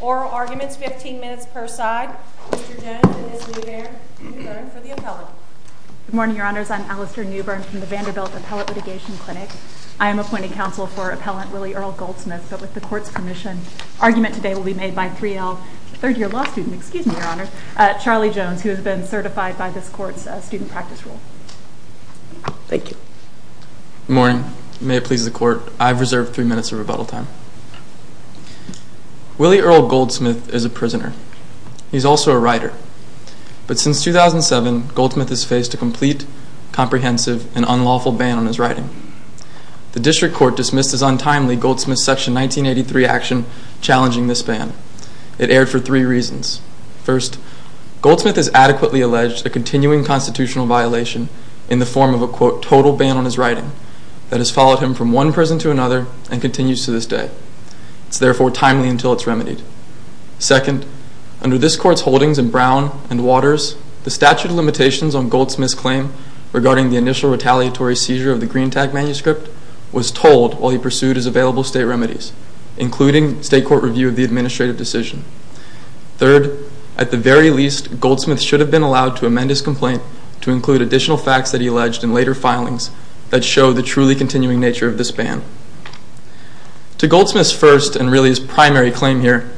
oral arguments, 15 minutes per side. Mr. Jones and Ms. Newbern for the appellate. Good morning, your honors. I'm Alastair Newbern from the Vanderbilt Appellate Litigation Clinic. I am appointing counsel for Appellant Willie Earl Goldsmith, but with the court's permission, argument today will be made by 3L, third-year law student, excuse me, your honors, Charlie Jones, who has been certified by this court's student practice rule. Thank you. Good morning. May it please the court, I've reserved 3 minutes of rebuttal time. Willie Earl Goldsmith is a prisoner. He's also a writer. But since 2007, Goldsmith has faced a complete, comprehensive, and unlawful ban on his writing. The district court dismissed his untimely Goldsmith Section 1983 action challenging this ban. It erred for 3 reasons. First, Goldsmith has adequately alleged a continuing constitutional violation in the form of a, quote, total ban on his writing that has followed him from one prison to another and continues to this day. It's therefore timely until it's remedied. Second, under this court's holdings in Brown and Waters, the statute of limitations on Goldsmith's claim regarding the initial retaliatory seizure of the Green Tag Manuscript was told while he pursued his available state remedies, including state court review of the administrative decision. Third, at the very least, Goldsmith should have been allowed to amend his complaint to include additional facts that he alleged in later filings that show the truly continuing nature of this ban. To Goldsmith's first and really his primary claim here,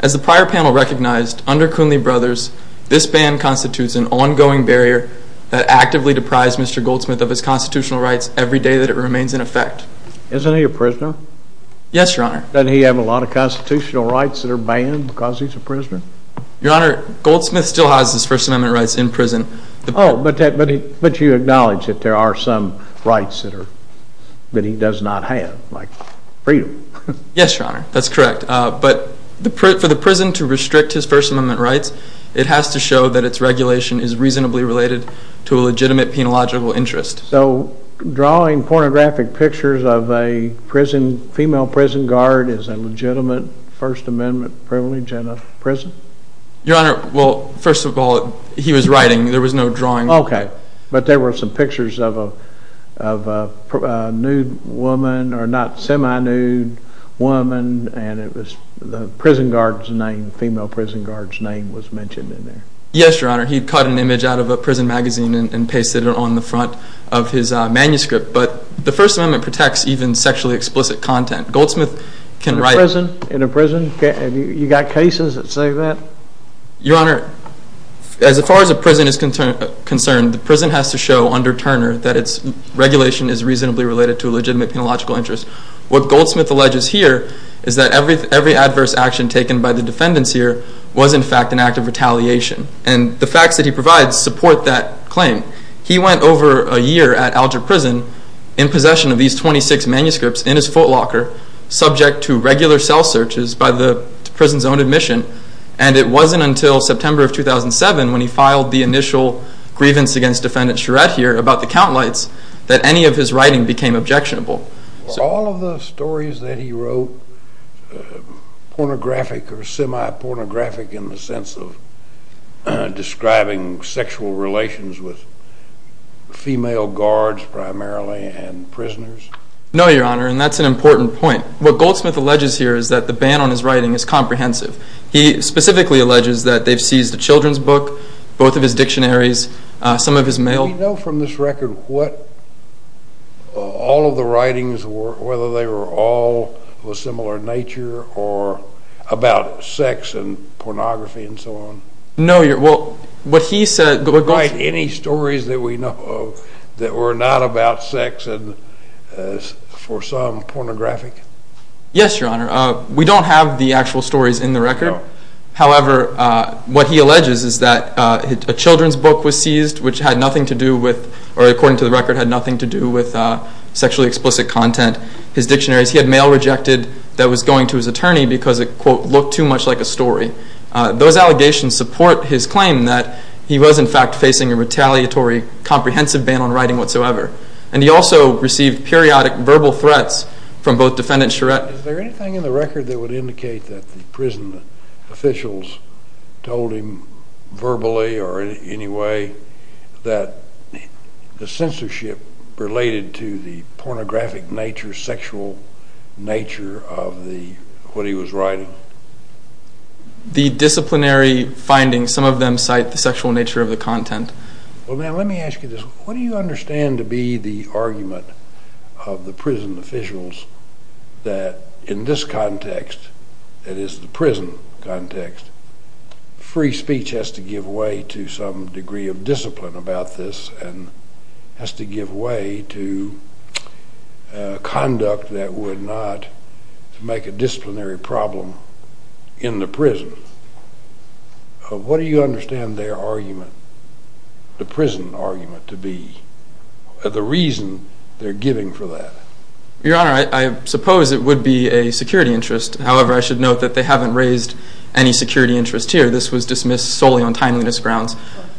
as the prior panel recognized, under Kunle Brothers, this ban constitutes an ongoing barrier that actively deprives Mr. Goldsmith of his constitutional rights every day that it remains in effect. Isn't he a prisoner? Yes, Your Honor. Doesn't he have a lot of constitutional rights that are banned because he's a prisoner? Your Honor, Goldsmith still has his First Amendment rights in prison. Oh, but you acknowledge that there are some rights that he does not have, like freedom. Yes, Your Honor, that's correct. But for the prison to restrict his First Amendment rights, it has to show that its regulation is reasonably related to a legitimate penological interest. So drawing pornographic pictures of a female prison guard is a legitimate First Amendment privilege in a prison? Your Honor, well, first of all, he was writing. There was no drawing. Okay, but there were some pictures of a nude woman, or not semi-nude woman, and it was the prison guard's name, the female prison guard's name was mentioned in there. Yes, Your Honor, he cut an image out of a prison magazine and pasted it on the front of his manuscript. But the First Amendment protects even sexually explicit content. Goldsmith can write... In a prison? You got cases that say that? Your Honor, as far as a prison is concerned, the prison has to show under Turner that its regulation is reasonably related to a legitimate penological interest. What Goldsmith alleges here is that every adverse action taken by the defendants here was in fact an act of retaliation. And the facts that he provides support that claim. He went over a year at Alger Prison in possession of these 26 manuscripts in his footlocker, subject to regular cell searches by the prison's own admission, and it wasn't until September of 2007 when he filed the initial grievance against Defendant Charette here about the count lights that any of his writing became objectionable. Are all of the stories that he wrote pornographic or semi-pornographic in the sense of describing sexual relations with female guards primarily and prisoners? No, Your Honor, and that's an important point. What Goldsmith alleges here is that the ban on his writing is comprehensive. He specifically alleges that they've seized a children's book, both of his dictionaries, some of his mail... Does he know from this record what all of the writings were, whether they were all of a similar nature or about sex and pornography and so on? No, Your Honor. Well, what he said... But, Goldsmith, any stories that we know of that were not about sex and for some pornographic? Yes, Your Honor. We don't have the actual stories in the record. No. However, what he alleges is that a children's book was seized, which had nothing to do with, or according to the record, had nothing to do with sexually explicit content. His dictionaries, he had mail rejected that was going to his attorney because it, quote, looked too much like a story. Those allegations support his claim that he was, in fact, facing a retaliatory comprehensive ban on writing whatsoever, and he also received periodic verbal threats from both Defendant Charette... Is there anything in the record that would indicate that the prison officials told him verbally or in any way that the censorship related to the pornographic nature, sexual nature of what he was writing? The disciplinary findings, some of them cite the sexual nature of the content. Well, now, let me ask you this. What do you understand to be the argument of the prison officials that in this context, that is the prison context, free speech has to give way to some degree of discipline about this and has to give way to conduct that would not make a disciplinary problem in the prison? What do you understand their argument, the prison argument to be, the reason they're giving for that? Your Honor, I suppose it would be a security interest. However, I should note that they haven't raised any security interest here. This was dismissed solely on timeliness grounds.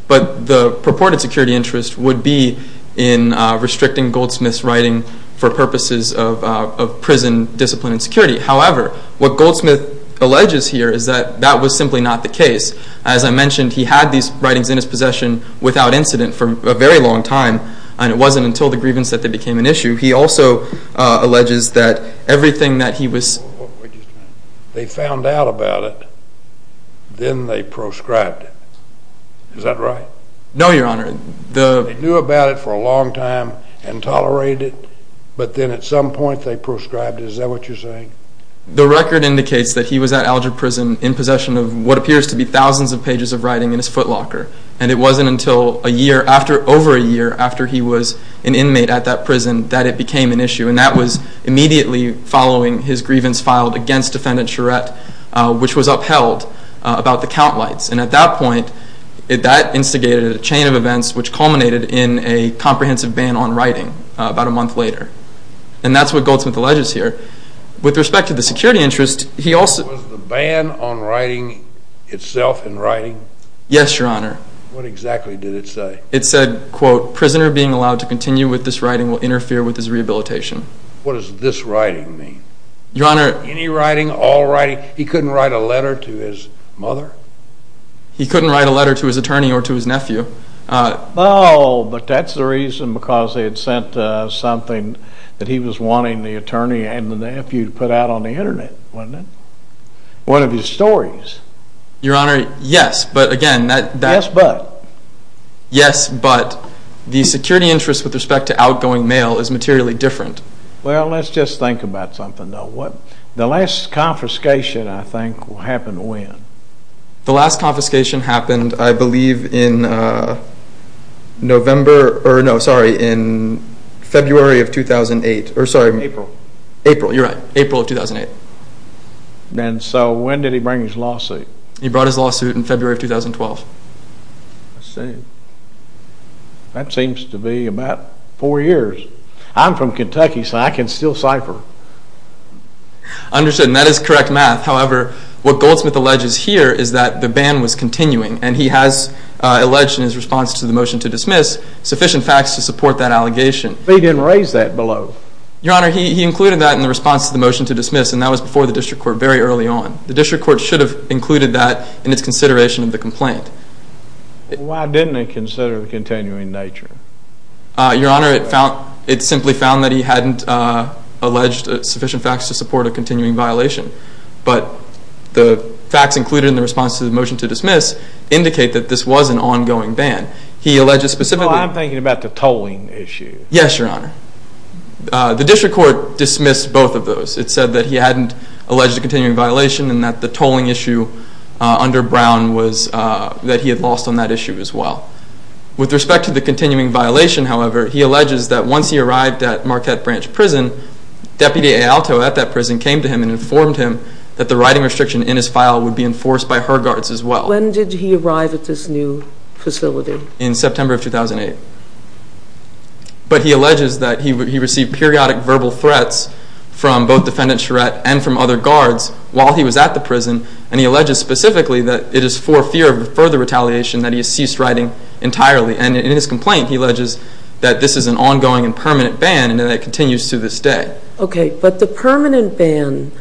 But the purported security interest would be in restricting Goldsmith's writing for purposes of prison discipline and security. However, what Goldsmith alleges here is that that was simply not the case. As I mentioned, he had these writings in his possession without incident for a very long time, and it wasn't until the grievance that they became an issue. He also alleges that everything that he was… Wait just a minute. They found out about it, then they proscribed it. Is that right? No, Your Honor. They knew about it for a long time and tolerated it, but then at some point they proscribed it. Is that what you're saying? The record indicates that he was at Alger Prison in possession of what appears to be thousands of pages of writing in his footlocker. And it wasn't until a year after, over a year after he was an inmate at that prison that it became an issue. And that was immediately following his grievance filed against Defendant Charette, which was upheld about the count lights. And at that point, that instigated a chain of events which culminated in a comprehensive ban on writing about a month later. And that's what Goldsmith alleges here. With respect to the security interest, he also… Was the ban on writing itself in writing? Yes, Your Honor. What exactly did it say? It said, quote, prisoner being allowed to continue with this writing will interfere with his rehabilitation. What does this writing mean? Your Honor… He couldn't write a letter to his mother? He couldn't write a letter to his attorney or to his nephew. Oh, but that's the reason because they had sent something that he was wanting the attorney and the nephew to put out on the Internet, wasn't it? One of his stories. Your Honor, yes, but again… Yes, but? Yes, but the security interest with respect to outgoing mail is materially different. Well, let's just think about something, though. The last confiscation, I think, happened when? The last confiscation happened, I believe, in February of 2008. April. April, you're right. April of 2008. And so when did he bring his lawsuit? He brought his lawsuit in February of 2012. I see. That seems to be about four years. I'm from Kentucky, so I can still cipher. Understood, and that is correct math. However, what Goldsmith alleges here is that the ban was continuing, and he has alleged in his response to the motion to dismiss sufficient facts to support that allegation. But he didn't raise that below. Your Honor, he included that in the response to the motion to dismiss, and that was before the district court very early on. The district court should have included that in its consideration of the complaint. Why didn't it consider the continuing nature? Your Honor, it simply found that he hadn't alleged sufficient facts to support a continuing violation. But the facts included in the response to the motion to dismiss indicate that this was an ongoing ban. He alleges specifically- No, I'm thinking about the tolling issue. Yes, Your Honor. The district court dismissed both of those. It said that he hadn't alleged a continuing violation and that the tolling issue under Brown was that he had lost on that issue as well. With respect to the continuing violation, however, he alleges that once he arrived at Marquette Branch Prison, Deputy Ayalto at that prison came to him and informed him that the writing restriction in his file would be enforced by her guards as well. When did he arrive at this new facility? In September of 2008. But he alleges that he received periodic verbal threats from both Defendant Charette and from other guards while he was at the prison, and he alleges specifically that it is for fear of further retaliation that he has ceased writing entirely. And in his complaint, he alleges that this is an ongoing and permanent ban and that it continues to this day. Okay, but the permanent ban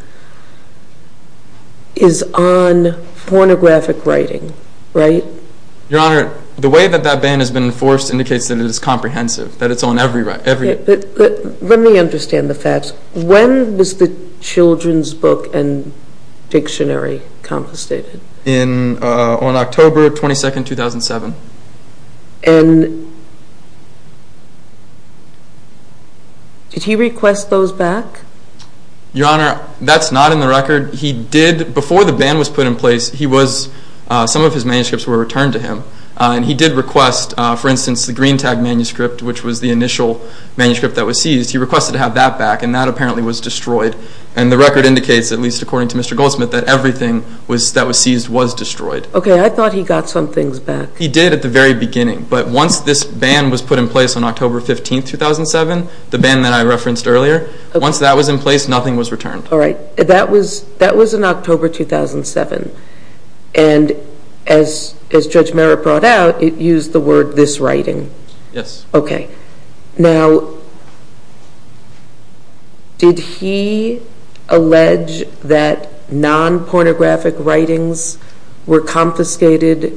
is on pornographic writing, right? Your Honor, the way that that ban has been enforced indicates that it is comprehensive, that it's on every- Okay, but let me understand the facts. When was the children's book and dictionary confiscated? On October 22, 2007. And did he request those back? Your Honor, that's not in the record. He did, before the ban was put in place, he was, some of his manuscripts were returned to him, and he did request, for instance, the Green Tag manuscript, which was the initial manuscript that was seized. He requested to have that back, and that apparently was destroyed. And the record indicates, at least according to Mr. Goldsmith, that everything that was seized was destroyed. Okay, I thought he got some things back. He did at the very beginning, but once this ban was put in place on October 15, 2007, the ban that I referenced earlier, once that was in place, nothing was returned. All right. That was in October 2007. And as Judge Merritt brought out, it used the word, this writing. Yes. Okay. Now, did he allege that non-pornographic writings were confiscated?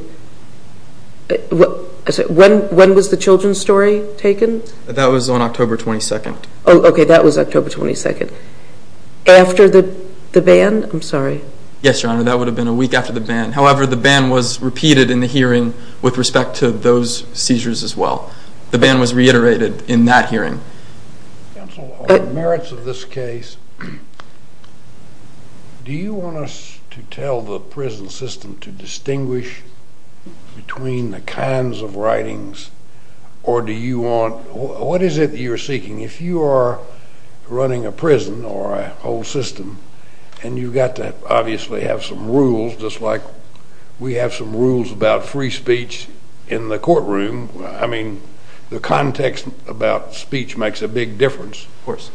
When was the children's story taken? That was on October 22. Oh, okay, that was October 22. After the ban? I'm sorry. Yes, Your Honor, that would have been a week after the ban. However, the ban was repeated in the hearing with respect to those seizures as well. The ban was reiterated in that hearing. Counsel, on the merits of this case, do you want us to tell the prison system to distinguish between the kinds of writings, or do you want, what is it that you're seeking? If you are running a prison or a whole system and you've got to obviously have some rules, just like we have some rules about free speech in the courtroom, I mean, the context about speech makes a big difference. Of course.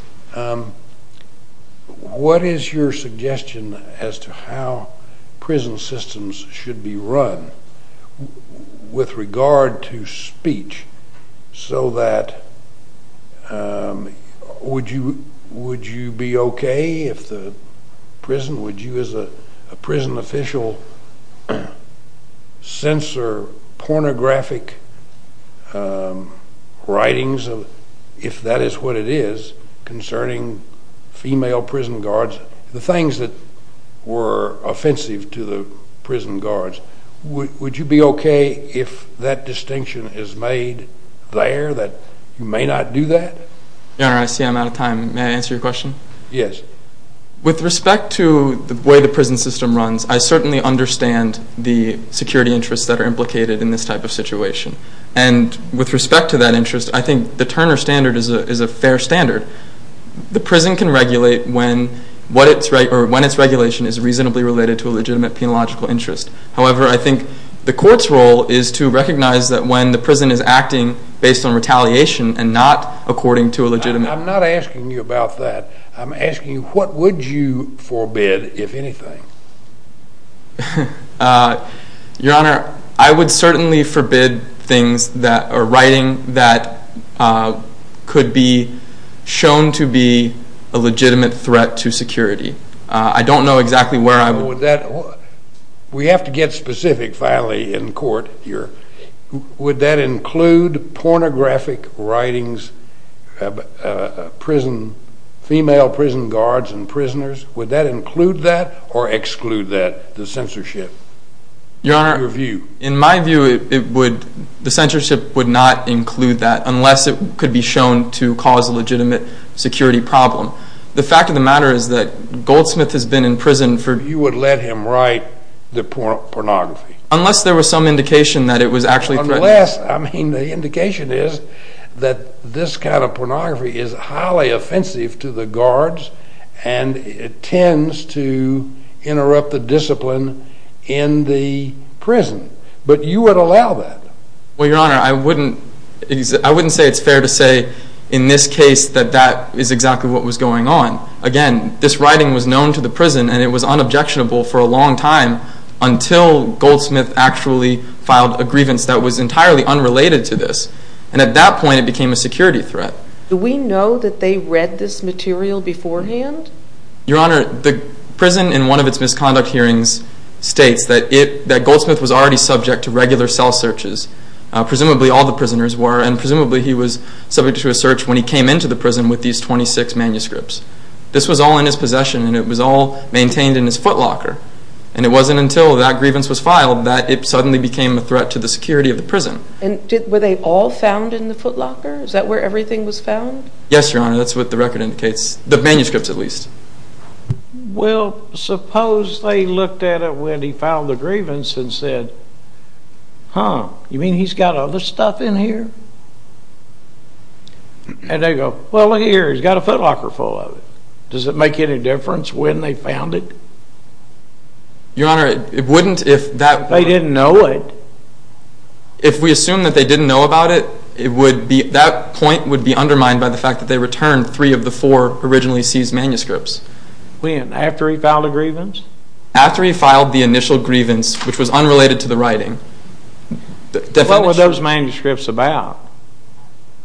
What is your suggestion as to how prison systems should be run with regard to speech so that would you be okay if the prison, would you as a prison official censor pornographic writings, if that is what it is, concerning female prison guards, the things that were offensive to the prison guards? Would you be okay if that distinction is made there that you may not do that? Your Honor, I see I'm out of time. May I answer your question? Yes. With respect to the way the prison system runs, I certainly understand the security interests that are implicated in this type of situation. And with respect to that interest, I think the Turner Standard is a fair standard. The prison can regulate when its regulation is reasonably related to a legitimate penological interest. However, I think the court's role is to recognize that when the prison is acting based on retaliation and not according to a legitimate... I'm not asking you about that. I'm asking you what would you forbid, if anything? Your Honor, I would certainly forbid things that, or writing that could be shown to be a legitimate threat to security. I don't know exactly where I would... We have to get specific finally in court here. Would that include pornographic writings of female prison guards and prisoners? Would that include that or exclude that, the censorship? Your Honor, in my view, the censorship would not include that unless it could be shown to cause a legitimate security problem. The fact of the matter is that Goldsmith has been in prison for... You would let him write the pornography? Unless there was some indication that it was actually threatening... Unless, I mean, the indication is that this kind of pornography is highly offensive to the guards, and it tends to interrupt the discipline in the prison. But you would allow that? Well, Your Honor, I wouldn't say it's fair to say in this case that that is exactly what was going on. Again, this writing was known to the prison and it was unobjectionable for a long time until Goldsmith actually filed a grievance that was entirely unrelated to this. And at that point it became a security threat. Do we know that they read this material beforehand? Your Honor, the prison in one of its misconduct hearings states that Goldsmith was already subject to regular cell searches. Presumably all the prisoners were, and presumably he was subject to a search when he came into the prison with these 26 manuscripts. This was all in his possession and it was all maintained in his footlocker. And it wasn't until that grievance was filed that it suddenly became a threat to the security of the prison. And were they all found in the footlocker? Is that where everything was found? Yes, Your Honor, that's what the record indicates. The manuscripts, at least. Well, suppose they looked at it when he filed the grievance and said, huh, you mean he's got other stuff in here? And they go, well, look here, he's got a footlocker full of it. Does it make any difference when they found it? Your Honor, it wouldn't if that... If they didn't know it. If we assume that they didn't know about it, that point would be undermined by the fact that they returned three of the four originally seized manuscripts. When? After he filed the grievance? After he filed the initial grievance, which was unrelated to the writing. What were those manuscripts about?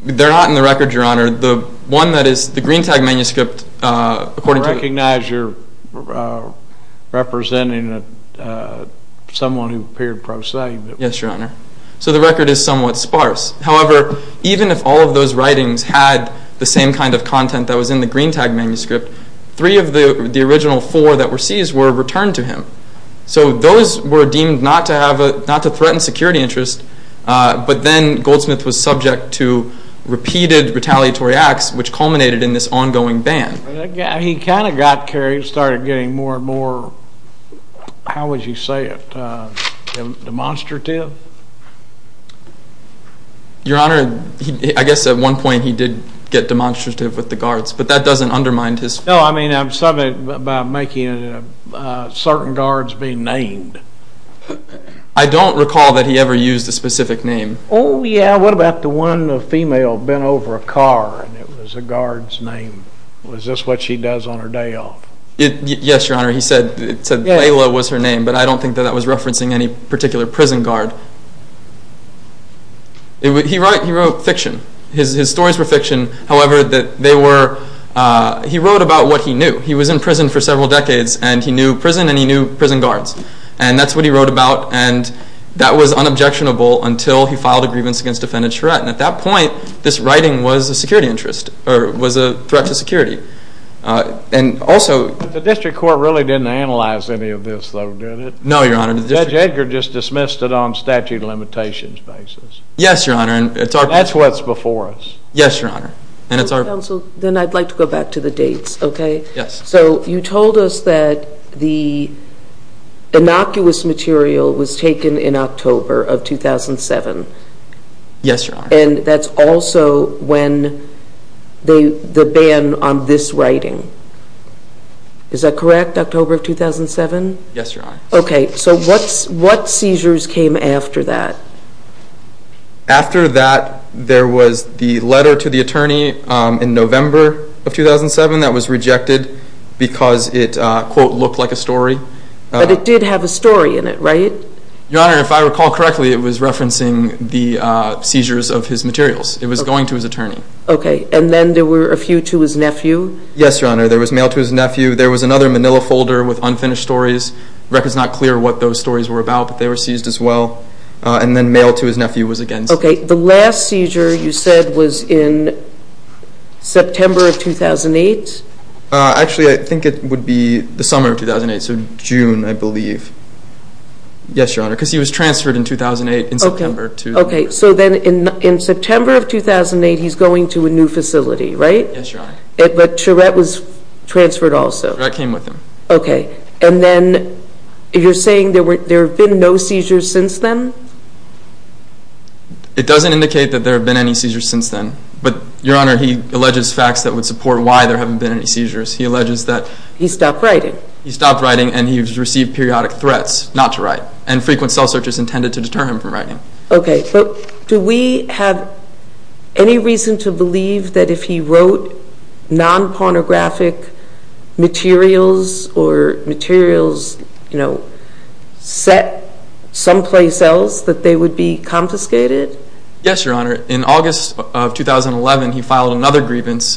They're not in the record, Your Honor. The one that is, the Greentag manuscript, according to the... I recognize you're representing someone who appeared prosaic. Yes, Your Honor. So the record is somewhat sparse. However, even if all of those writings had the same kind of content that was in the Greentag manuscript, three of the original four that were seized were returned to him. So those were deemed not to threaten security interest, but then Goldsmith was subject to repeated retaliatory acts, which culminated in this ongoing ban. He kind of got carried, started getting more and more... Demonstrative? Your Honor, I guess at one point he did get demonstrative with the guards, but that doesn't undermine his... No, I mean something about making certain guards be named. I don't recall that he ever used a specific name. Oh, yeah. What about the one female bent over a car and it was a guard's name? Was this what she does on her day off? Yes, Your Honor. He said Layla was her name, but I don't think that that was referencing any particular prison guard. He wrote fiction. His stories were fiction. However, he wrote about what he knew. He was in prison for several decades and he knew prison and he knew prison guards. And that's what he wrote about. And that was unobjectionable until he filed a grievance against defendant Charette. And at that point, this writing was a security interest or was a threat to security. The District Court really didn't analyze any of this, though, did it? No, Your Honor. Judge Edgar just dismissed it on statute of limitations basis. Yes, Your Honor. That's what's before us. Yes, Your Honor. Counsel, then I'd like to go back to the dates, okay? Yes. So you told us that the innocuous material was taken in October of 2007. Yes, Your Honor. And that's also when the ban on this writing. Is that correct, October of 2007? Yes, Your Honor. Okay, so what seizures came after that? After that, there was the letter to the attorney in November of 2007 that was rejected because it, quote, looked like a story. But it did have a story in it, right? Your Honor, if I recall correctly, it was referencing the seizures of his materials. It was going to his attorney. Okay. And then there were a few to his nephew? Yes, Your Honor. There was mail to his nephew. There was another manila folder with unfinished stories. The record is not clear what those stories were about, but they were seized as well. And then mail to his nephew was against it. Okay. The last seizure, you said, was in September of 2008? Actually, I think it would be the summer of 2008, so June, I believe. Yes, Your Honor, because he was transferred in 2008 in September. Okay. So then in September of 2008, he's going to a new facility, right? Yes, Your Honor. But Charette was transferred also? Charette came with him. Okay. And then you're saying there have been no seizures since then? It doesn't indicate that there have been any seizures since then. But, Your Honor, he alleges facts that would support why there haven't been any seizures. He alleges that he stopped writing. He stopped writing, and he has received periodic threats not to write, and frequent cell searches intended to deter him from writing. Okay. But do we have any reason to believe that if he wrote non-pornographic materials or materials set someplace else that they would be confiscated? Yes, Your Honor. In August of 2011, he filed another grievance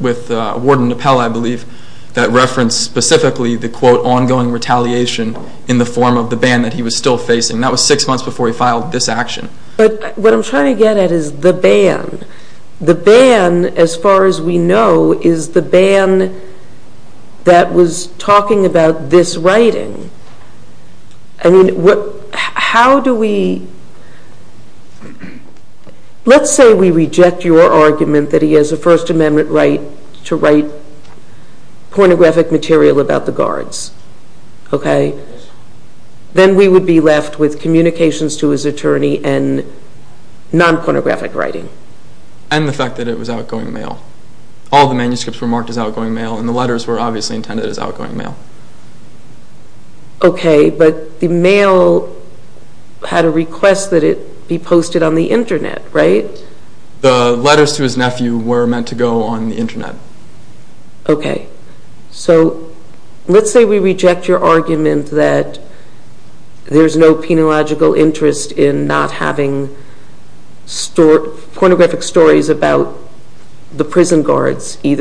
with Warden Napel, I believe, that referenced specifically the, quote, ongoing retaliation in the form of the ban that he was still facing. That was six months before he filed this action. But what I'm trying to get at is the ban. The ban, as far as we know, is the ban that was talking about this writing. I mean, how do we – let's say we reject your argument that he has a First Amendment right to write pornographic material about the guards, okay? Then we would be left with communications to his attorney and non-pornographic writing. And the fact that it was outgoing mail. All the manuscripts were marked as outgoing mail, and the letters were obviously intended as outgoing mail. Okay, but the mail had a request that it be posted on the Internet, right? The letters to his nephew were meant to go on the Internet. Okay. So let's say we reject your argument that there's no penological interest in not having pornographic stories about the prison guards, and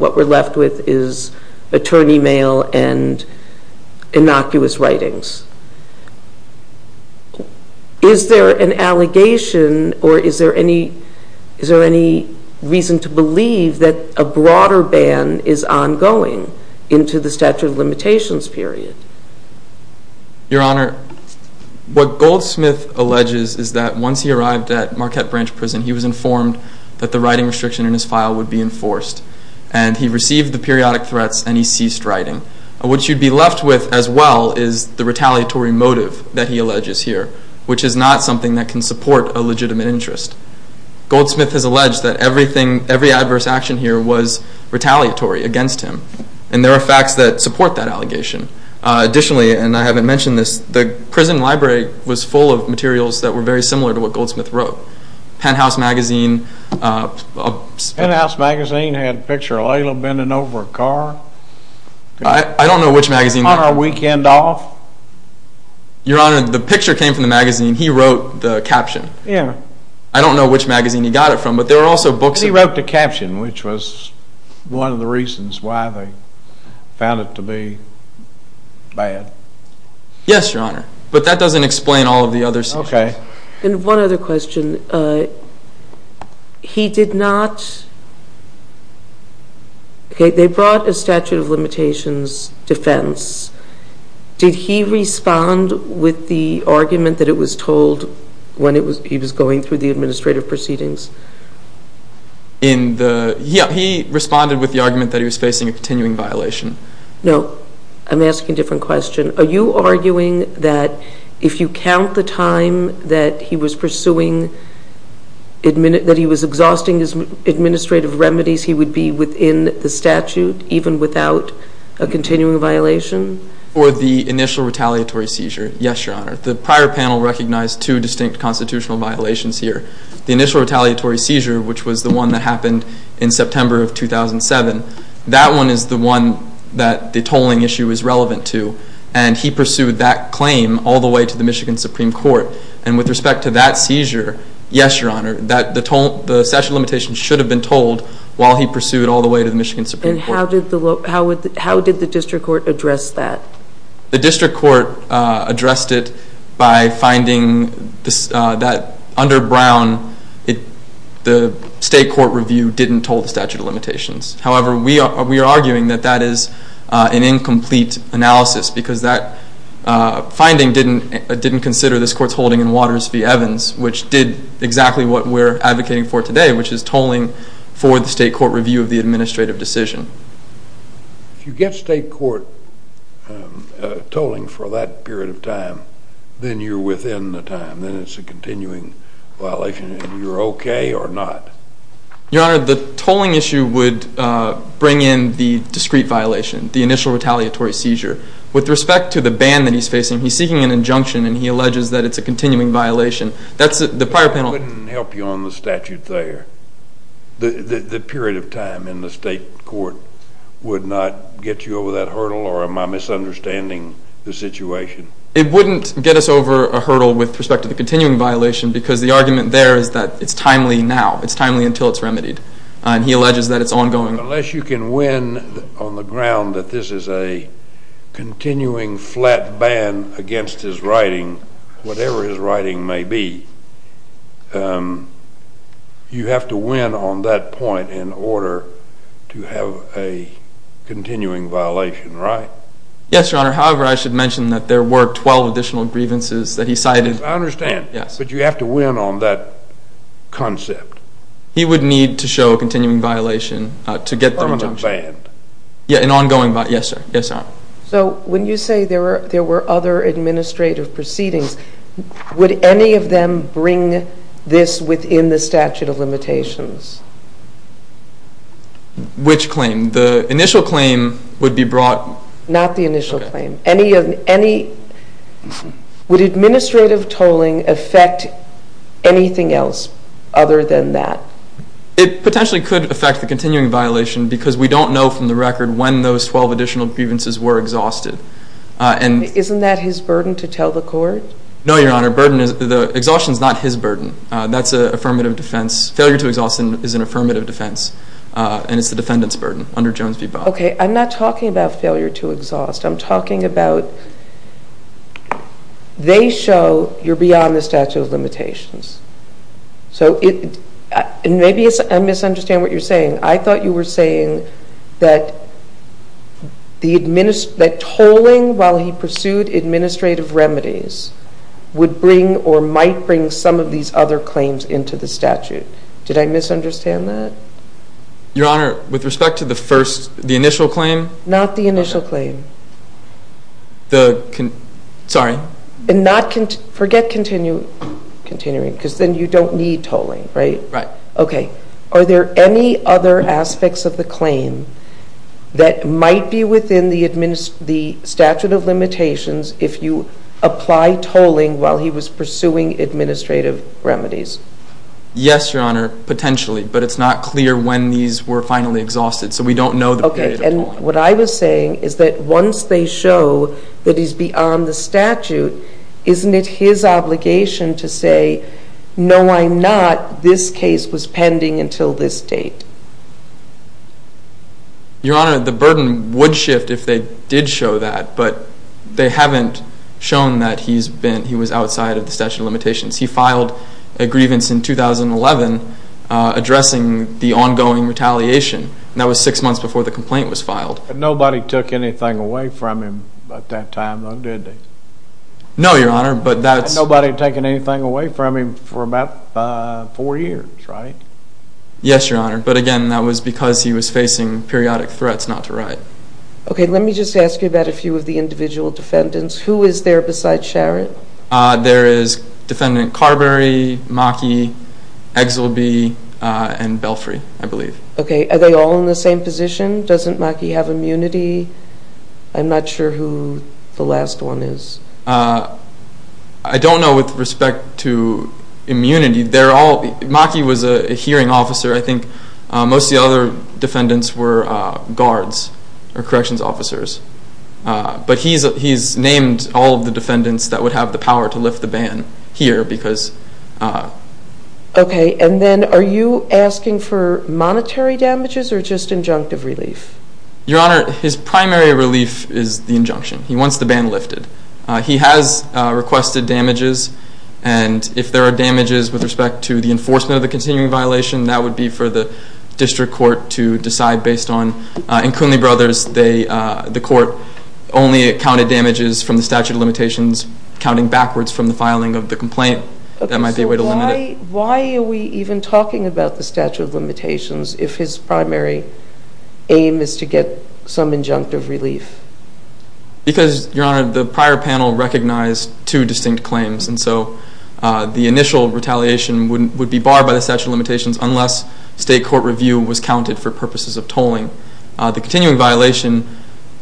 what we're left with is attorney mail and innocuous writings. Is there an allegation or is there any reason to believe that a broader ban is ongoing into the statute of limitations period? Your Honor, what Goldsmith alleges is that once he arrived at Marquette Branch Prison, he was informed that the writing restriction in his file would be enforced, and he received the periodic threats and he ceased writing. What you'd be left with as well is the retaliatory motive that he alleges here, which is not something that can support a legitimate interest. Goldsmith has alleged that every adverse action here was retaliatory against him, and there are facts that support that allegation. Additionally, and I haven't mentioned this, the prison library was full of materials that were very similar to what Goldsmith wrote. Penthouse Magazine. Penthouse Magazine had a picture of Layla bending over a car. I don't know which magazine. On a weekend off. Your Honor, the picture came from the magazine. He wrote the caption. I don't know which magazine he got it from, but there were also books. He wrote the caption, which was one of the reasons why they found it to be bad. Yes, Your Honor, but that doesn't explain all of the other sections. Okay. And one other question. He did not... Okay, they brought a statute of limitations defense. Did he respond with the argument that it was told when he was going through the administrative proceedings? In the... Yeah, he responded with the argument that he was facing a continuing violation. No. I'm asking a different question. Are you arguing that if you count the time that he was pursuing... that he was exhausting his administrative remedies, he would be within the statute even without a continuing violation? Or the initial retaliatory seizure. Yes, Your Honor. The prior panel recognized two distinct constitutional violations here. The initial retaliatory seizure, which was the one that happened in September of 2007, that one is the one that the tolling issue is relevant to. And he pursued that claim all the way to the Michigan Supreme Court. And with respect to that seizure, yes, Your Honor, the statute of limitations should have been told while he pursued all the way to the Michigan Supreme Court. And how did the district court address that? The district court addressed it by finding that under Brown, the state court review didn't toll the statute of limitations. However, we are arguing that that is an incomplete analysis because that finding didn't consider this court's holding in Waters v. Evans, which did exactly what we're advocating for today, which is tolling for the state court review of the administrative decision. If you get state court tolling for that period of time, then you're within the time. Then it's a continuing violation, and you're okay or not. Your Honor, the tolling issue would bring in the discrete violation, the initial retaliatory seizure. With respect to the ban that he's facing, he's seeking an injunction, and he alleges that it's a continuing violation. That's the prior panel. It wouldn't help you on the statute there. The period of time in the state court would not get you over that hurdle or am I misunderstanding the situation? It wouldn't get us over a hurdle with respect to the continuing violation because the argument there is that it's timely now. It's timely until it's remedied, and he alleges that it's ongoing. Unless you can win on the ground that this is a continuing flat ban against his writing, whatever his writing may be, you have to win on that point in order to have a continuing violation, right? Yes, Your Honor. However, I should mention that there were 12 additional grievances that he cited. I understand. Yes. But you have to win on that concept. He would need to show a continuing violation to get the injunction. Permanent ban. Yes, an ongoing violation. Yes, sir. So when you say there were other administrative proceedings, would any of them bring this within the statute of limitations? Which claim? The initial claim would be brought. Not the initial claim. Okay. Would administrative tolling affect anything else other than that? It potentially could affect the continuing violation because we don't know from the record when those 12 additional grievances were exhausted. Isn't that his burden to tell the court? No, Your Honor. The exhaustion is not his burden. That's an affirmative defense. Failure to exhaust is an affirmative defense, and it's the defendant's burden under Jones v. Bowen. Okay. I'm not talking about failure to exhaust. I'm talking about they show you're beyond the statute of limitations. So maybe I misunderstand what you're saying. I thought you were saying that tolling while he pursued administrative remedies would bring or might bring some of these other claims into the statute. Did I misunderstand that? Your Honor, with respect to the initial claim? Not the initial claim. Sorry. Forget continuing because then you don't need tolling, right? Right. Okay. Are there any other aspects of the claim that might be within the statute of limitations if you apply tolling while he was pursuing administrative remedies? Yes, Your Honor, potentially. But it's not clear when these were finally exhausted, so we don't know the period of tolling. And what I was saying is that once they show that he's beyond the statute, isn't it his obligation to say, no, I'm not, this case was pending until this date? Your Honor, the burden would shift if they did show that, but they haven't shown that he was outside of the statute of limitations. He filed a grievance in 2011 addressing the ongoing retaliation, and that was six months before the complaint was filed. But nobody took anything away from him at that time, though, did they? No, Your Honor. Nobody had taken anything away from him for about four years, right? Yes, Your Honor. But, again, that was because he was facing periodic threats not to write. Okay. Let me just ask you about a few of the individual defendants. Who is there besides Sharon? There is Defendant Carberry, Maki, Exelby, and Belfry, I believe. Okay. Are they all in the same position? Doesn't Maki have immunity? I'm not sure who the last one is. I don't know with respect to immunity. Maki was a hearing officer. I think most of the other defendants were guards or corrections officers. But he's named all of the defendants that would have the power to lift the ban here. Okay. And then are you asking for monetary damages or just injunctive relief? Your Honor, his primary relief is the injunction. He wants the ban lifted. He has requested damages. And if there are damages with respect to the enforcement of the continuing violation, that would be for the district court to decide based on. So why are we even talking about the statute of limitations if his primary aim is to get some injunctive relief? Because, Your Honor, the prior panel recognized two distinct claims. And so the initial retaliation would be barred by the statute of limitations unless state court review was counted for purposes of tolling. The continuing violation,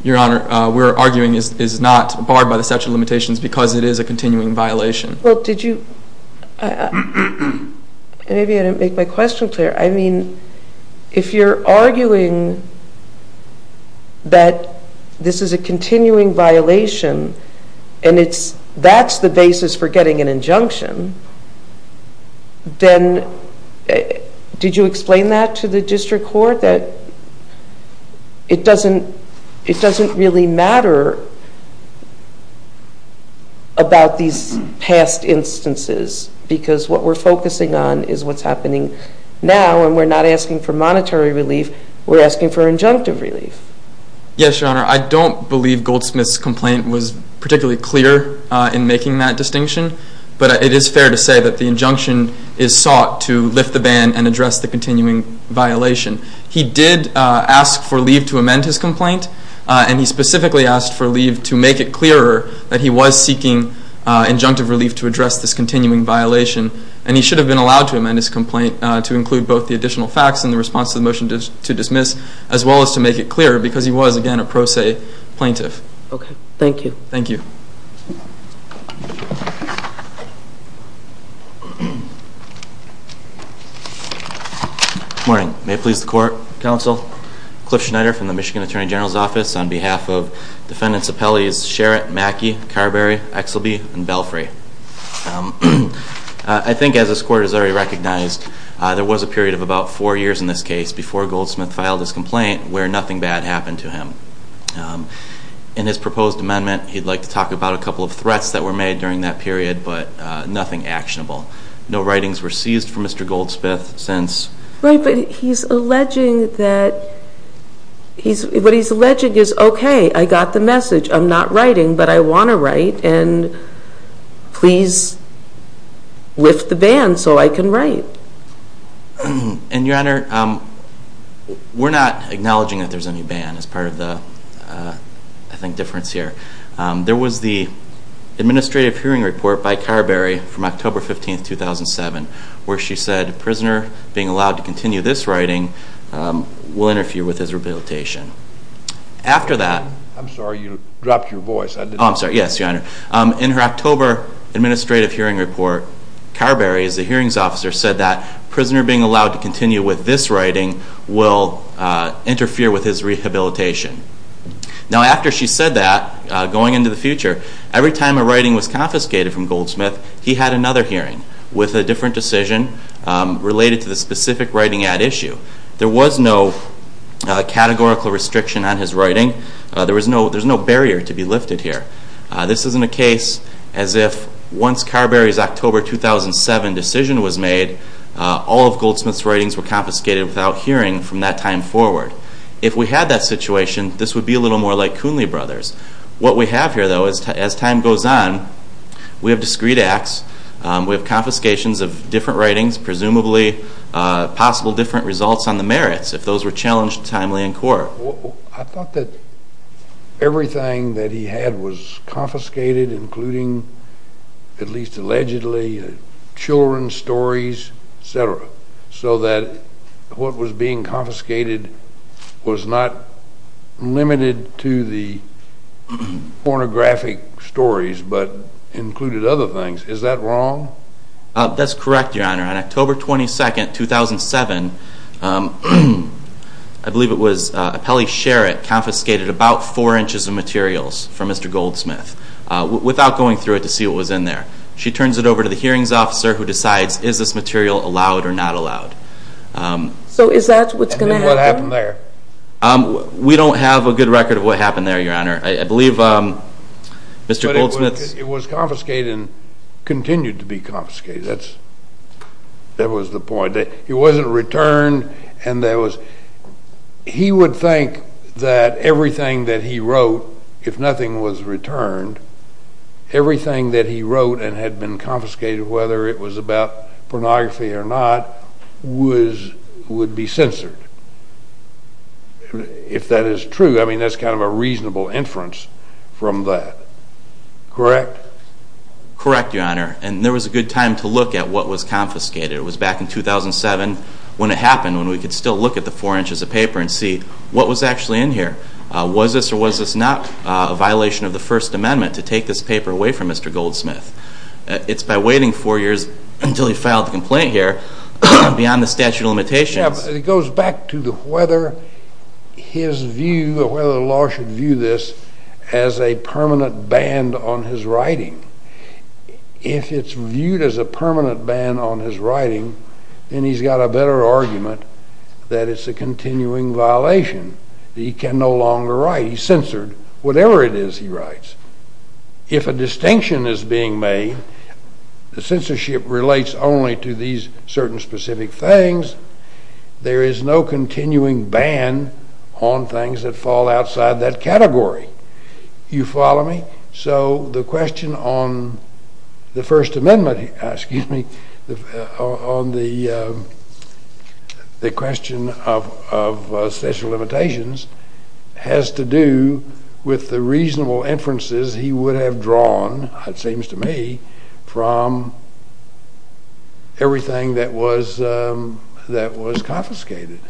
Your Honor, we're arguing is not barred by the statute of limitations because it is a continuing violation. Well, did you – maybe I didn't make my question clear. I mean, if you're arguing that this is a continuing violation and that's the basis for getting an injunction, then did you explain that to the district court that it doesn't really matter about these past instances because what we're focusing on is what's happening now and we're not asking for monetary relief. We're asking for injunctive relief. Yes, Your Honor. I don't believe Goldsmith's complaint was particularly clear in making that distinction. But it is fair to say that the injunction is sought to lift the ban and address the continuing violation. He did ask for leave to amend his complaint. And he specifically asked for leave to make it clearer that he was seeking injunctive relief to address this continuing violation. And he should have been allowed to amend his complaint to include both the additional facts in the response to the motion to dismiss as well as to make it clearer because he was, again, a pro se plaintiff. Okay. Thank you. Thank you. Good morning. May it please the court, counsel. Cliff Schneider from the Michigan Attorney General's Office on behalf of defendants' appellees Sherritt, Mackey, Carberry, Exelby, and Belfry. I think as this court has already recognized, there was a period of about four years in this case before Goldsmith filed his complaint where nothing bad happened to him. In his proposed amendment, he'd like to talk about a couple of threats that were made during that period but nothing actionable. No writings were seized for Mr. Goldsmith since Right, but he's alleging that, what he's alleging is, okay, I got the message. I'm not writing, but I want to write. And please lift the ban so I can write. And, Your Honor, we're not acknowledging that there's any ban as part of the, I think, difference here. There was the administrative hearing report by Carberry from October 15, 2007, where she said a prisoner being allowed to continue this writing will interfere with his rehabilitation. After that I'm sorry. You dropped your voice. Oh, I'm sorry. Yes, Your Honor. In her October administrative hearing report, Carberry, as the hearings officer, said that prisoner being allowed to continue with this writing will interfere with his rehabilitation. Now, after she said that, going into the future, every time a writing was confiscated from Goldsmith, he had another hearing with a different decision related to the specific writing at issue. There was no categorical restriction on his writing. There's no barrier to be lifted here. This isn't a case as if once Carberry's October 2007 decision was made, all of Goldsmith's writings were confiscated without hearing from that time forward. If we had that situation, this would be a little more like Coonley Brothers. What we have here, though, as time goes on, we have discrete acts. We have confiscations of different writings, presumably possible different results on the merits, if those were challenged timely in court. Your Honor, I thought that everything that he had was confiscated, including at least allegedly children's stories, et cetera, so that what was being confiscated was not limited to the pornographic stories but included other things. Is that wrong? That's correct, Your Honor. On October 22, 2007, I believe it was a Pelley Sherritt confiscated about four inches of materials from Mr. Goldsmith without going through it to see what was in there. She turns it over to the hearings officer who decides is this material allowed or not allowed. So is that what's going to happen? And then what happened there? We don't have a good record of what happened there, Your Honor. I believe Mr. Goldsmith's— That was the point. He wasn't returned, and there was— He would think that everything that he wrote, if nothing was returned, everything that he wrote and had been confiscated, whether it was about pornography or not, would be censored, if that is true. I mean, that's kind of a reasonable inference from that. Correct? Correct, Your Honor. And there was a good time to look at what was confiscated. It was back in 2007 when it happened, when we could still look at the four inches of paper and see what was actually in here. Was this or was this not a violation of the First Amendment to take this paper away from Mr. Goldsmith? It's by waiting four years until he filed the complaint here, beyond the statute of limitations— It goes back to whether his view or whether the law should view this as a permanent ban on his writing. If it's viewed as a permanent ban on his writing, then he's got a better argument that it's a continuing violation. He can no longer write. He's censored whatever it is he writes. If a distinction is being made, the censorship relates only to these certain specific things, there is no continuing ban on things that fall outside that category. You follow me? So the question on the First Amendment, excuse me, on the question of statute of limitations has to do with the reasonable inferences he would have drawn, it seems to me, from everything that was confiscated.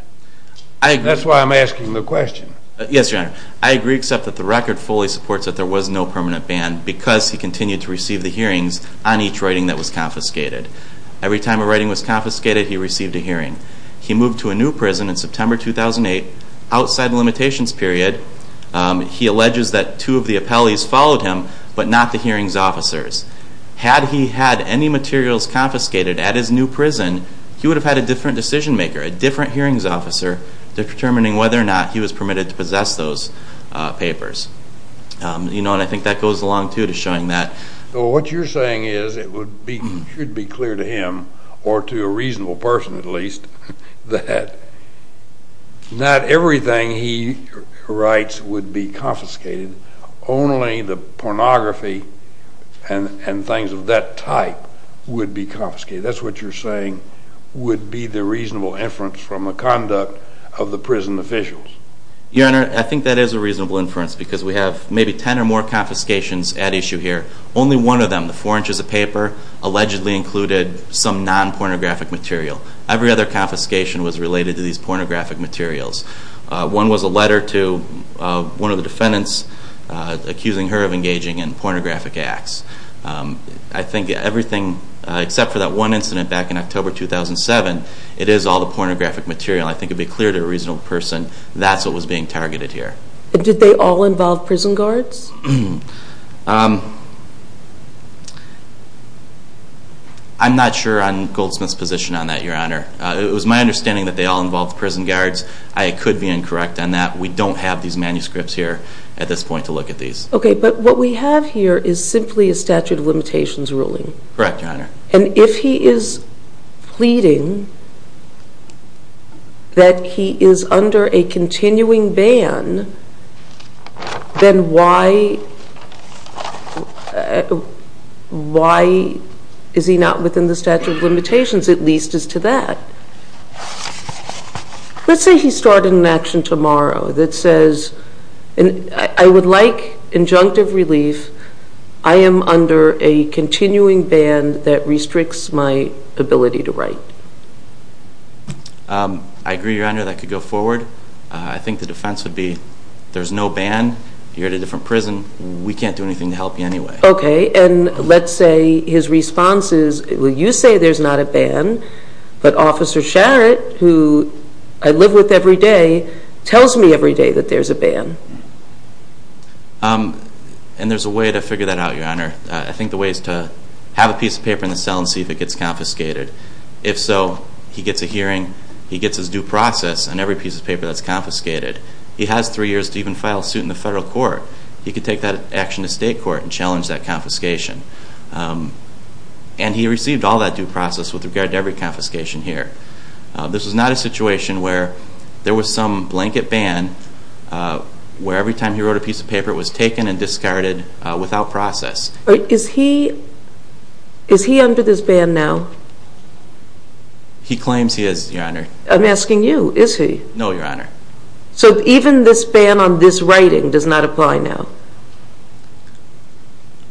That's why I'm asking the question. Yes, Your Honor. I agree, except that the record fully supports that there was no permanent ban because he continued to receive the hearings on each writing that was confiscated. Every time a writing was confiscated, he received a hearing. He moved to a new prison in September 2008, outside the limitations period. He alleges that two of the appellees followed him, but not the hearings officers. Had he had any materials confiscated at his new prison, he would have had a different decision maker, a different hearings officer, determining whether or not he was permitted to possess those papers. I think that goes along, too, to showing that. What you're saying is it should be clear to him, or to a reasonable person at least, that not everything he writes would be confiscated, only the pornography and things of that type would be confiscated. That's what you're saying would be the reasonable inference from the conduct of the prison officials. Your Honor, I think that is a reasonable inference because we have maybe ten or more confiscations at issue here. Only one of them, the four inches of paper, allegedly included some non-pornographic material. Every other confiscation was related to these pornographic materials. One was a letter to one of the defendants accusing her of engaging in pornographic acts. I think everything, except for that one incident back in October 2007, it is all the pornographic material. I think it would be clear to a reasonable person that's what was being targeted here. Did they all involve prison guards? I'm not sure on Goldsmith's position on that, Your Honor. It was my understanding that they all involved prison guards. I could be incorrect on that. We don't have these manuscripts here at this point to look at these. Okay, but what we have here is simply a statute of limitations ruling. Correct, Your Honor. And if he is pleading that he is under a continuing ban, then why is he not within the statute of limitations? At least as to that. Let's say he started an action tomorrow that says, I would like injunctive relief. I am under a continuing ban that restricts my ability to write. I agree, Your Honor. That could go forward. I think the defense would be there's no ban. You're at a different prison. We can't do anything to help you anyway. Okay, and let's say his response is, well, you say there's not a ban, but Officer Sharratt, who I live with every day, tells me every day that there's a ban. And there's a way to figure that out, Your Honor. I think the way is to have a piece of paper in the cell and see if it gets confiscated. If so, he gets a hearing. He gets his due process on every piece of paper that's confiscated. He has three years to even file a suit in the federal court. He could take that action to state court and challenge that confiscation. And he received all that due process with regard to every confiscation here. This is not a situation where there was some blanket ban where every time he wrote a piece of paper, it was taken and discarded without process. Is he under this ban now? He claims he is, Your Honor. I'm asking you, is he? No, Your Honor. So even this ban on this writing does not apply now?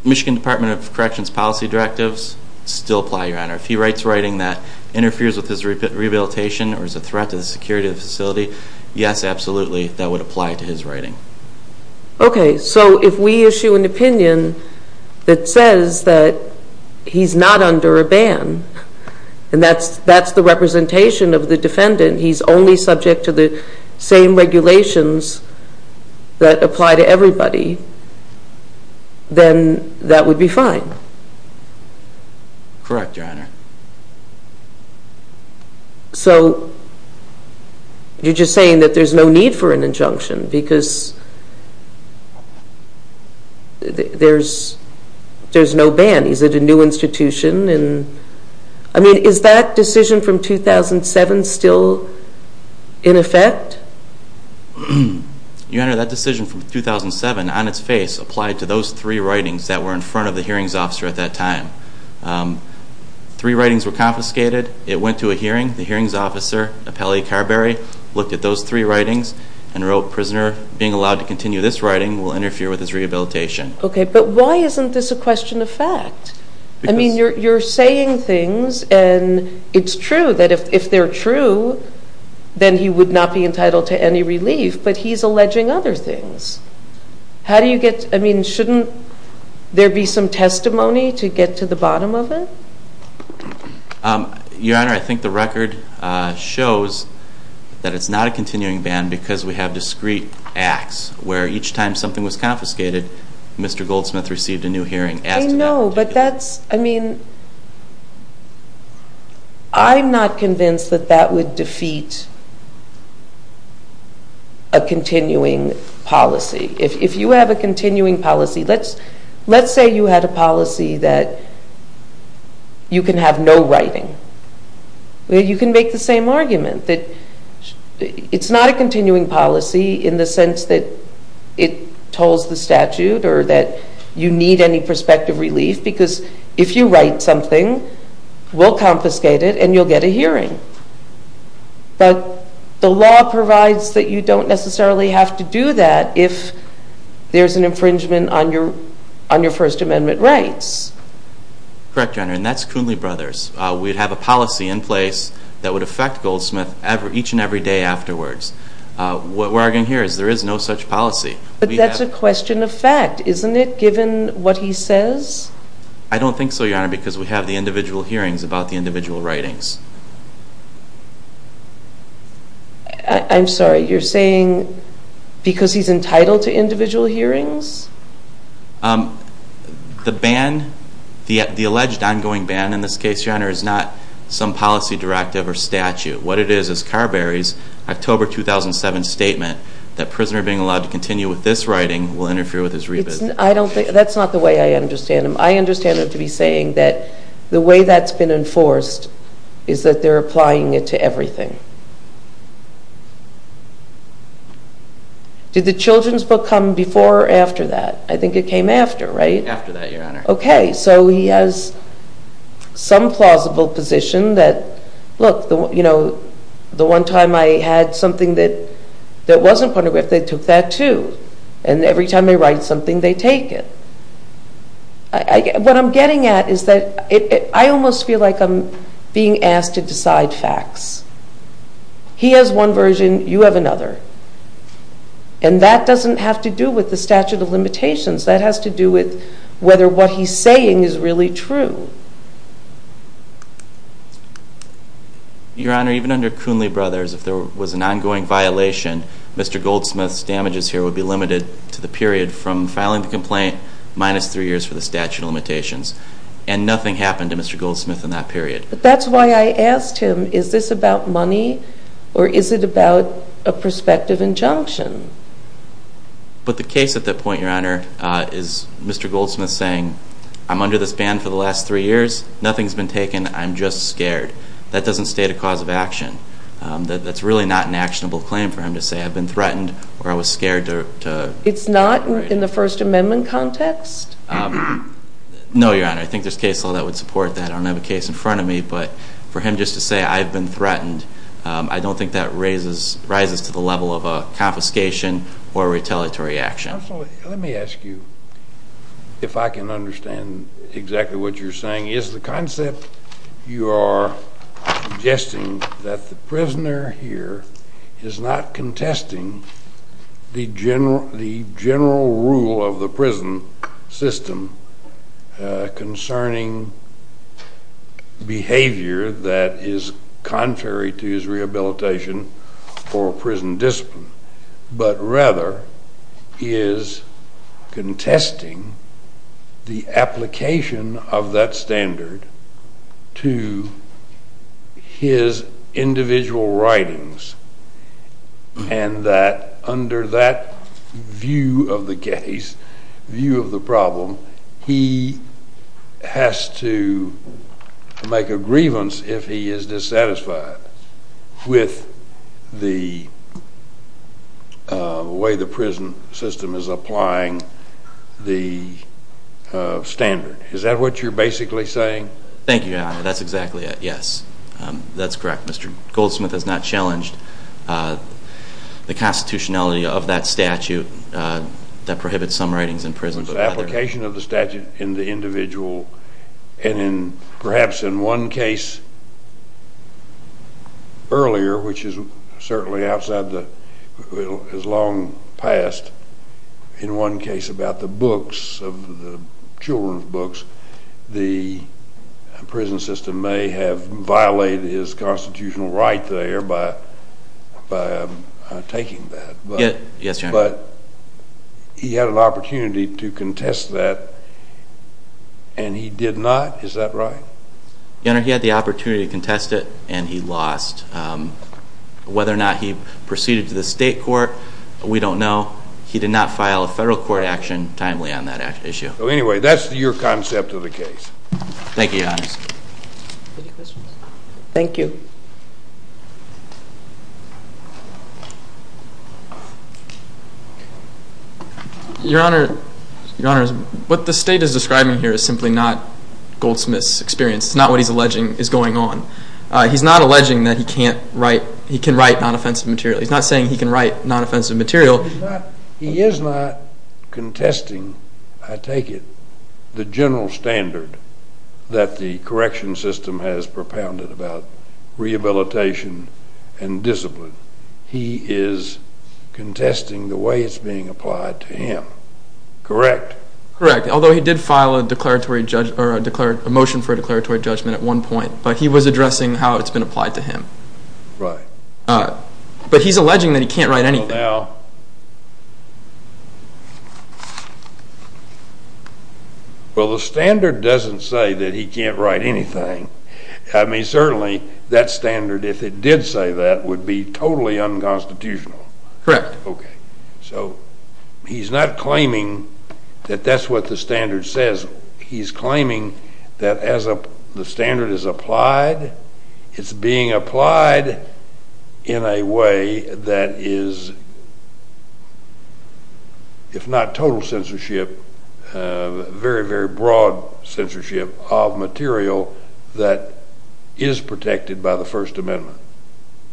Michigan Department of Corrections policy directives still apply, Your Honor. If he writes writing that interferes with his rehabilitation or is a threat to the security of the facility, yes, absolutely, that would apply to his writing. Okay. So if we issue an opinion that says that he's not under a ban and that's the representation of the defendant, and he's only subject to the same regulations that apply to everybody, then that would be fine? Correct, Your Honor. So you're just saying that there's no need for an injunction because there's no ban. He's at a new institution. I mean, is that decision from 2007 still in effect? Your Honor, that decision from 2007, on its face, applied to those three writings that were in front of the hearings officer at that time. Three writings were confiscated. It went to a hearing. The hearings officer, Appellee Carberry, looked at those three writings and wrote, Prisoner being allowed to continue this writing will interfere with his rehabilitation. Okay, but why isn't this a question of fact? I mean, you're saying things, and it's true that if they're true, then he would not be entitled to any relief, but he's alleging other things. How do you get, I mean, shouldn't there be some testimony to get to the bottom of it? Your Honor, I think the record shows that it's not a continuing ban because we have discrete acts where each time something was confiscated, Mr. Goldsmith received a new hearing. I know, but that's, I mean, I'm not convinced that that would defeat a continuing policy. If you have a continuing policy, let's say you had a policy that you can have no writing. You can make the same argument. It's not a continuing policy in the sense that it tolls the statute or that you need any prospective relief because if you write something, we'll confiscate it and you'll get a hearing. But the law provides that you don't necessarily have to do that if there's an infringement on your First Amendment rights. Correct, Your Honor, and that's Kuhnley Brothers. We'd have a policy in place that would affect Goldsmith each and every day afterwards. What we're arguing here is there is no such policy. But that's a question of fact, isn't it, given what he says? I don't think so, Your Honor, because we have the individual hearings about the individual writings. I'm sorry, you're saying because he's entitled to individual hearings? The ban, the alleged ongoing ban in this case, Your Honor, is not some policy directive or statute. What it is is Carberry's October 2007 statement that prisoner being allowed to continue with this writing will interfere with his rebid. That's not the way I understand him. I understand him to be saying that the way that's been enforced is that they're applying it to everything. Did the children's book come before or after that? I think it came after, right? After that, Your Honor. Okay, so he has some plausible position that, look, the one time I had something that wasn't pornographic, they took that too. And every time they write something, they take it. What I'm getting at is that I almost feel like I'm being asked to decide facts. He has one version, you have another. And that doesn't have to do with the statute of limitations. That has to do with whether what he's saying is really true. Your Honor, even under Coonley Brothers, if there was an ongoing violation, Mr. Goldsmith's damages here would be limited to the period from filing the complaint minus 3 years for the statute of limitations. And nothing happened to Mr. Goldsmith in that period. But that's why I asked him, is this about money or is it about a prospective injunction? But the case at that point, Your Honor, is Mr. Goldsmith saying, I'm under this ban for the last 3 years, nothing's been taken, I'm just scared. That doesn't state a cause of action. That's really not an actionable claim for him to say, I've been threatened or I was scared. It's not in the First Amendment context? No, Your Honor. I think there's case law that would support that. I don't have a case in front of me. But for him just to say, I've been threatened, I don't think that rises to the level of a confiscation or a retaliatory action. Let me ask you, if I can understand exactly what you're saying, is the concept you are suggesting that the prisoner here is not contesting the general rule of the prison system concerning behavior that is contrary to his rehabilitation or prison discipline, but rather is contesting the application of that standard to his individual writings and that under that view of the case, view of the problem, he has to make a grievance if he is dissatisfied with the way the prison system is applying the standard. Is that what you're basically saying? Thank you, Your Honor. That's exactly it, yes. That's correct. Mr. Goldsmith has not challenged the constitutionality of that statute that prohibits some writings in prison. But the application of the statute in the individual and perhaps in one case earlier, which is certainly outside the, as long past, in one case about the books, the children's books, the prison system may have violated his constitutional right there by taking that. Yes, Your Honor. But he had an opportunity to contest that and he did not, is that right? Your Honor, he had the opportunity to contest it and he lost. Whether or not he proceeded to the state court, we don't know. He did not file a federal court action timely on that issue. So anyway, that's your concept of the case. Thank you, Your Honor. Any questions? Thank you. Your Honor, what the state is describing here is simply not Goldsmith's experience. It's not what he's alleging is going on. He's not alleging that he can write non-offensive material. He's not saying he can write non-offensive material. He is not contesting, I take it, the general standard that the correction system has propounded about rehabilitation and discipline. He is contesting the way it's being applied to him, correct? Correct, although he did file a motion for a declaratory judgment at one point, but he was addressing how it's been applied to him. Right. But he's alleging that he can't write anything. Well, the standard doesn't say that he can't write anything. I mean, certainly that standard, if it did say that, would be totally unconstitutional. Correct. Okay. So he's not claiming that that's what the standard says. He's claiming that as the standard is applied, it's being applied in a way that is, if not total censorship, very, very broad censorship of material that is protected by the First Amendment.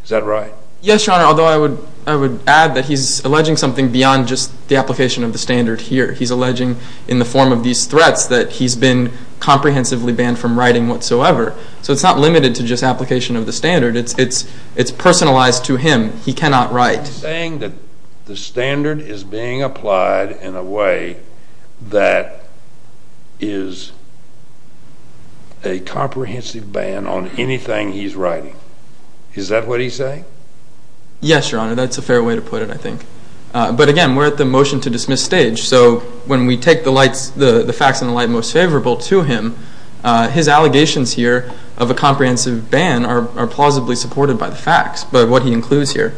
Is that right? Yes, Your Honor, although I would add that he's alleging something beyond just the application of the standard here. He's alleging in the form of these threats that he's been comprehensively banned from writing whatsoever. So it's not limited to just application of the standard. It's personalized to him. He cannot write. He's saying that the standard is being applied in a way that is a comprehensive ban on anything he's writing. Is that what he's saying? Yes, Your Honor. That's a fair way to put it, I think. But, again, we're at the motion to dismiss stage. So when we take the facts in the light most favorable to him, his allegations here of a comprehensive ban are plausibly supported by the facts, by what he includes here.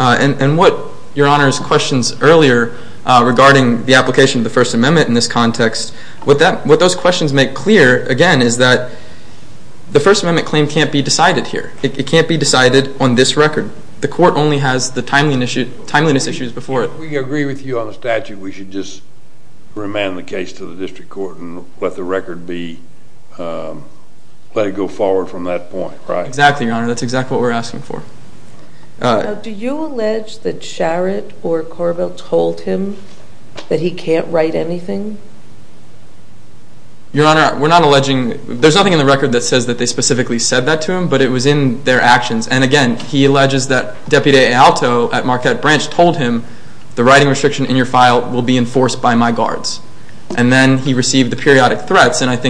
And what Your Honor's questions earlier regarding the application of the First Amendment in this context, what those questions make clear, again, is that the First Amendment claim can't be decided here. It can't be decided on this record. The court only has the timeliness issues before it. We agree with you on the statute. We should just remand the case to the district court and let the record be, let it go forward from that point, right? Exactly, Your Honor. That's exactly what we're asking for. Do you allege that Sharrett or Corbett told him that he can't write anything? Your Honor, we're not alleging. There's nothing in the record that says that they specifically said that to him, but it was in their actions. And, again, he alleges that Deputy Aalto at Marquette Branch told him, the writing restriction in your file will be enforced by my guards. And then he received the periodic threats. What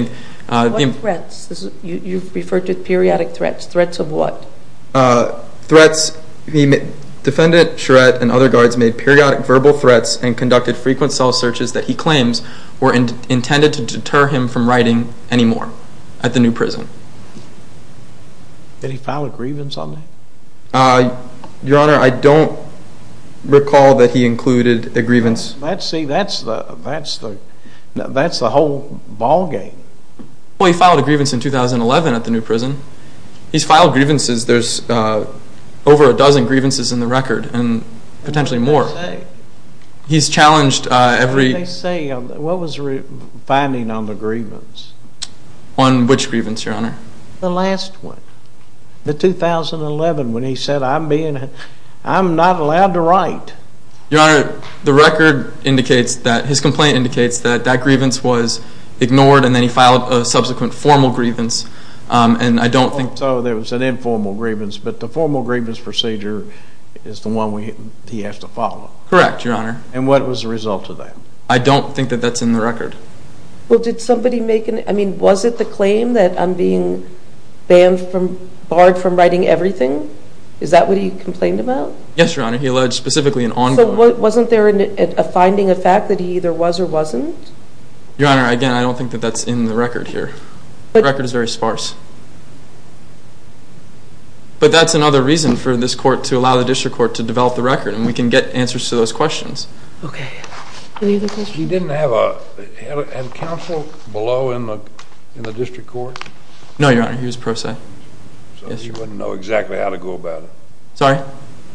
threats? You referred to periodic threats. Threats of what? Defendant Sharrett and other guards made periodic verbal threats and conducted frequent cell searches that he claims were intended to deter him from writing anymore at the new prison. Did he file a grievance on that? Your Honor, I don't recall that he included a grievance. See, that's the whole ballgame. Well, he filed a grievance in 2011 at the new prison. He's filed grievances. There's over a dozen grievances in the record and potentially more. What did they say? He's challenged every— What did they say? What was the finding on the grievance? On which grievance, Your Honor? The last one, the 2011, when he said, I'm not allowed to write. Your Honor, the record indicates that—his complaint indicates that that grievance was ignored and then he filed a subsequent formal grievance, and I don't think— So there was an informal grievance, but the formal grievance procedure is the one he has to follow. Correct, Your Honor. And what was the result of that? I don't think that that's in the record. Well, did somebody make an—I mean, was it the claim that I'm being barred from writing everything? Is that what he complained about? Yes, Your Honor. He alleged specifically an ongoing— So wasn't there a finding of fact that he either was or wasn't? Your Honor, again, I don't think that that's in the record here. The record is very sparse. But that's another reason for this court to allow the district court to develop the record, and we can get answers to those questions. Okay. Any other questions? He didn't have a counsel below in the district court? No, Your Honor. He was pro se. So he wouldn't know exactly how to go about it. Sorry?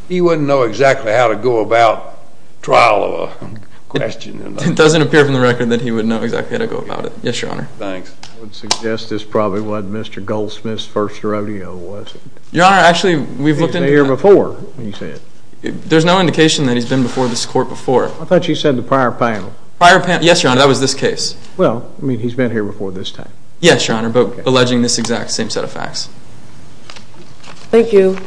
He wouldn't know exactly how to go about trial of a question. It doesn't appear from the record that he would know exactly how to go about it. Yes, Your Honor. Thanks. I would suggest this probably wasn't Mr. Goldsmith's first rodeo, was it? Your Honor, actually, we've looked into— He's been here before, you said. There's no indication that he's been before this court before. I thought you said the prior panel. Prior panel—yes, Your Honor, that was this case. Well, I mean, he's been here before this time. Yes, Your Honor, but alleging this exact same set of facts. Thank you.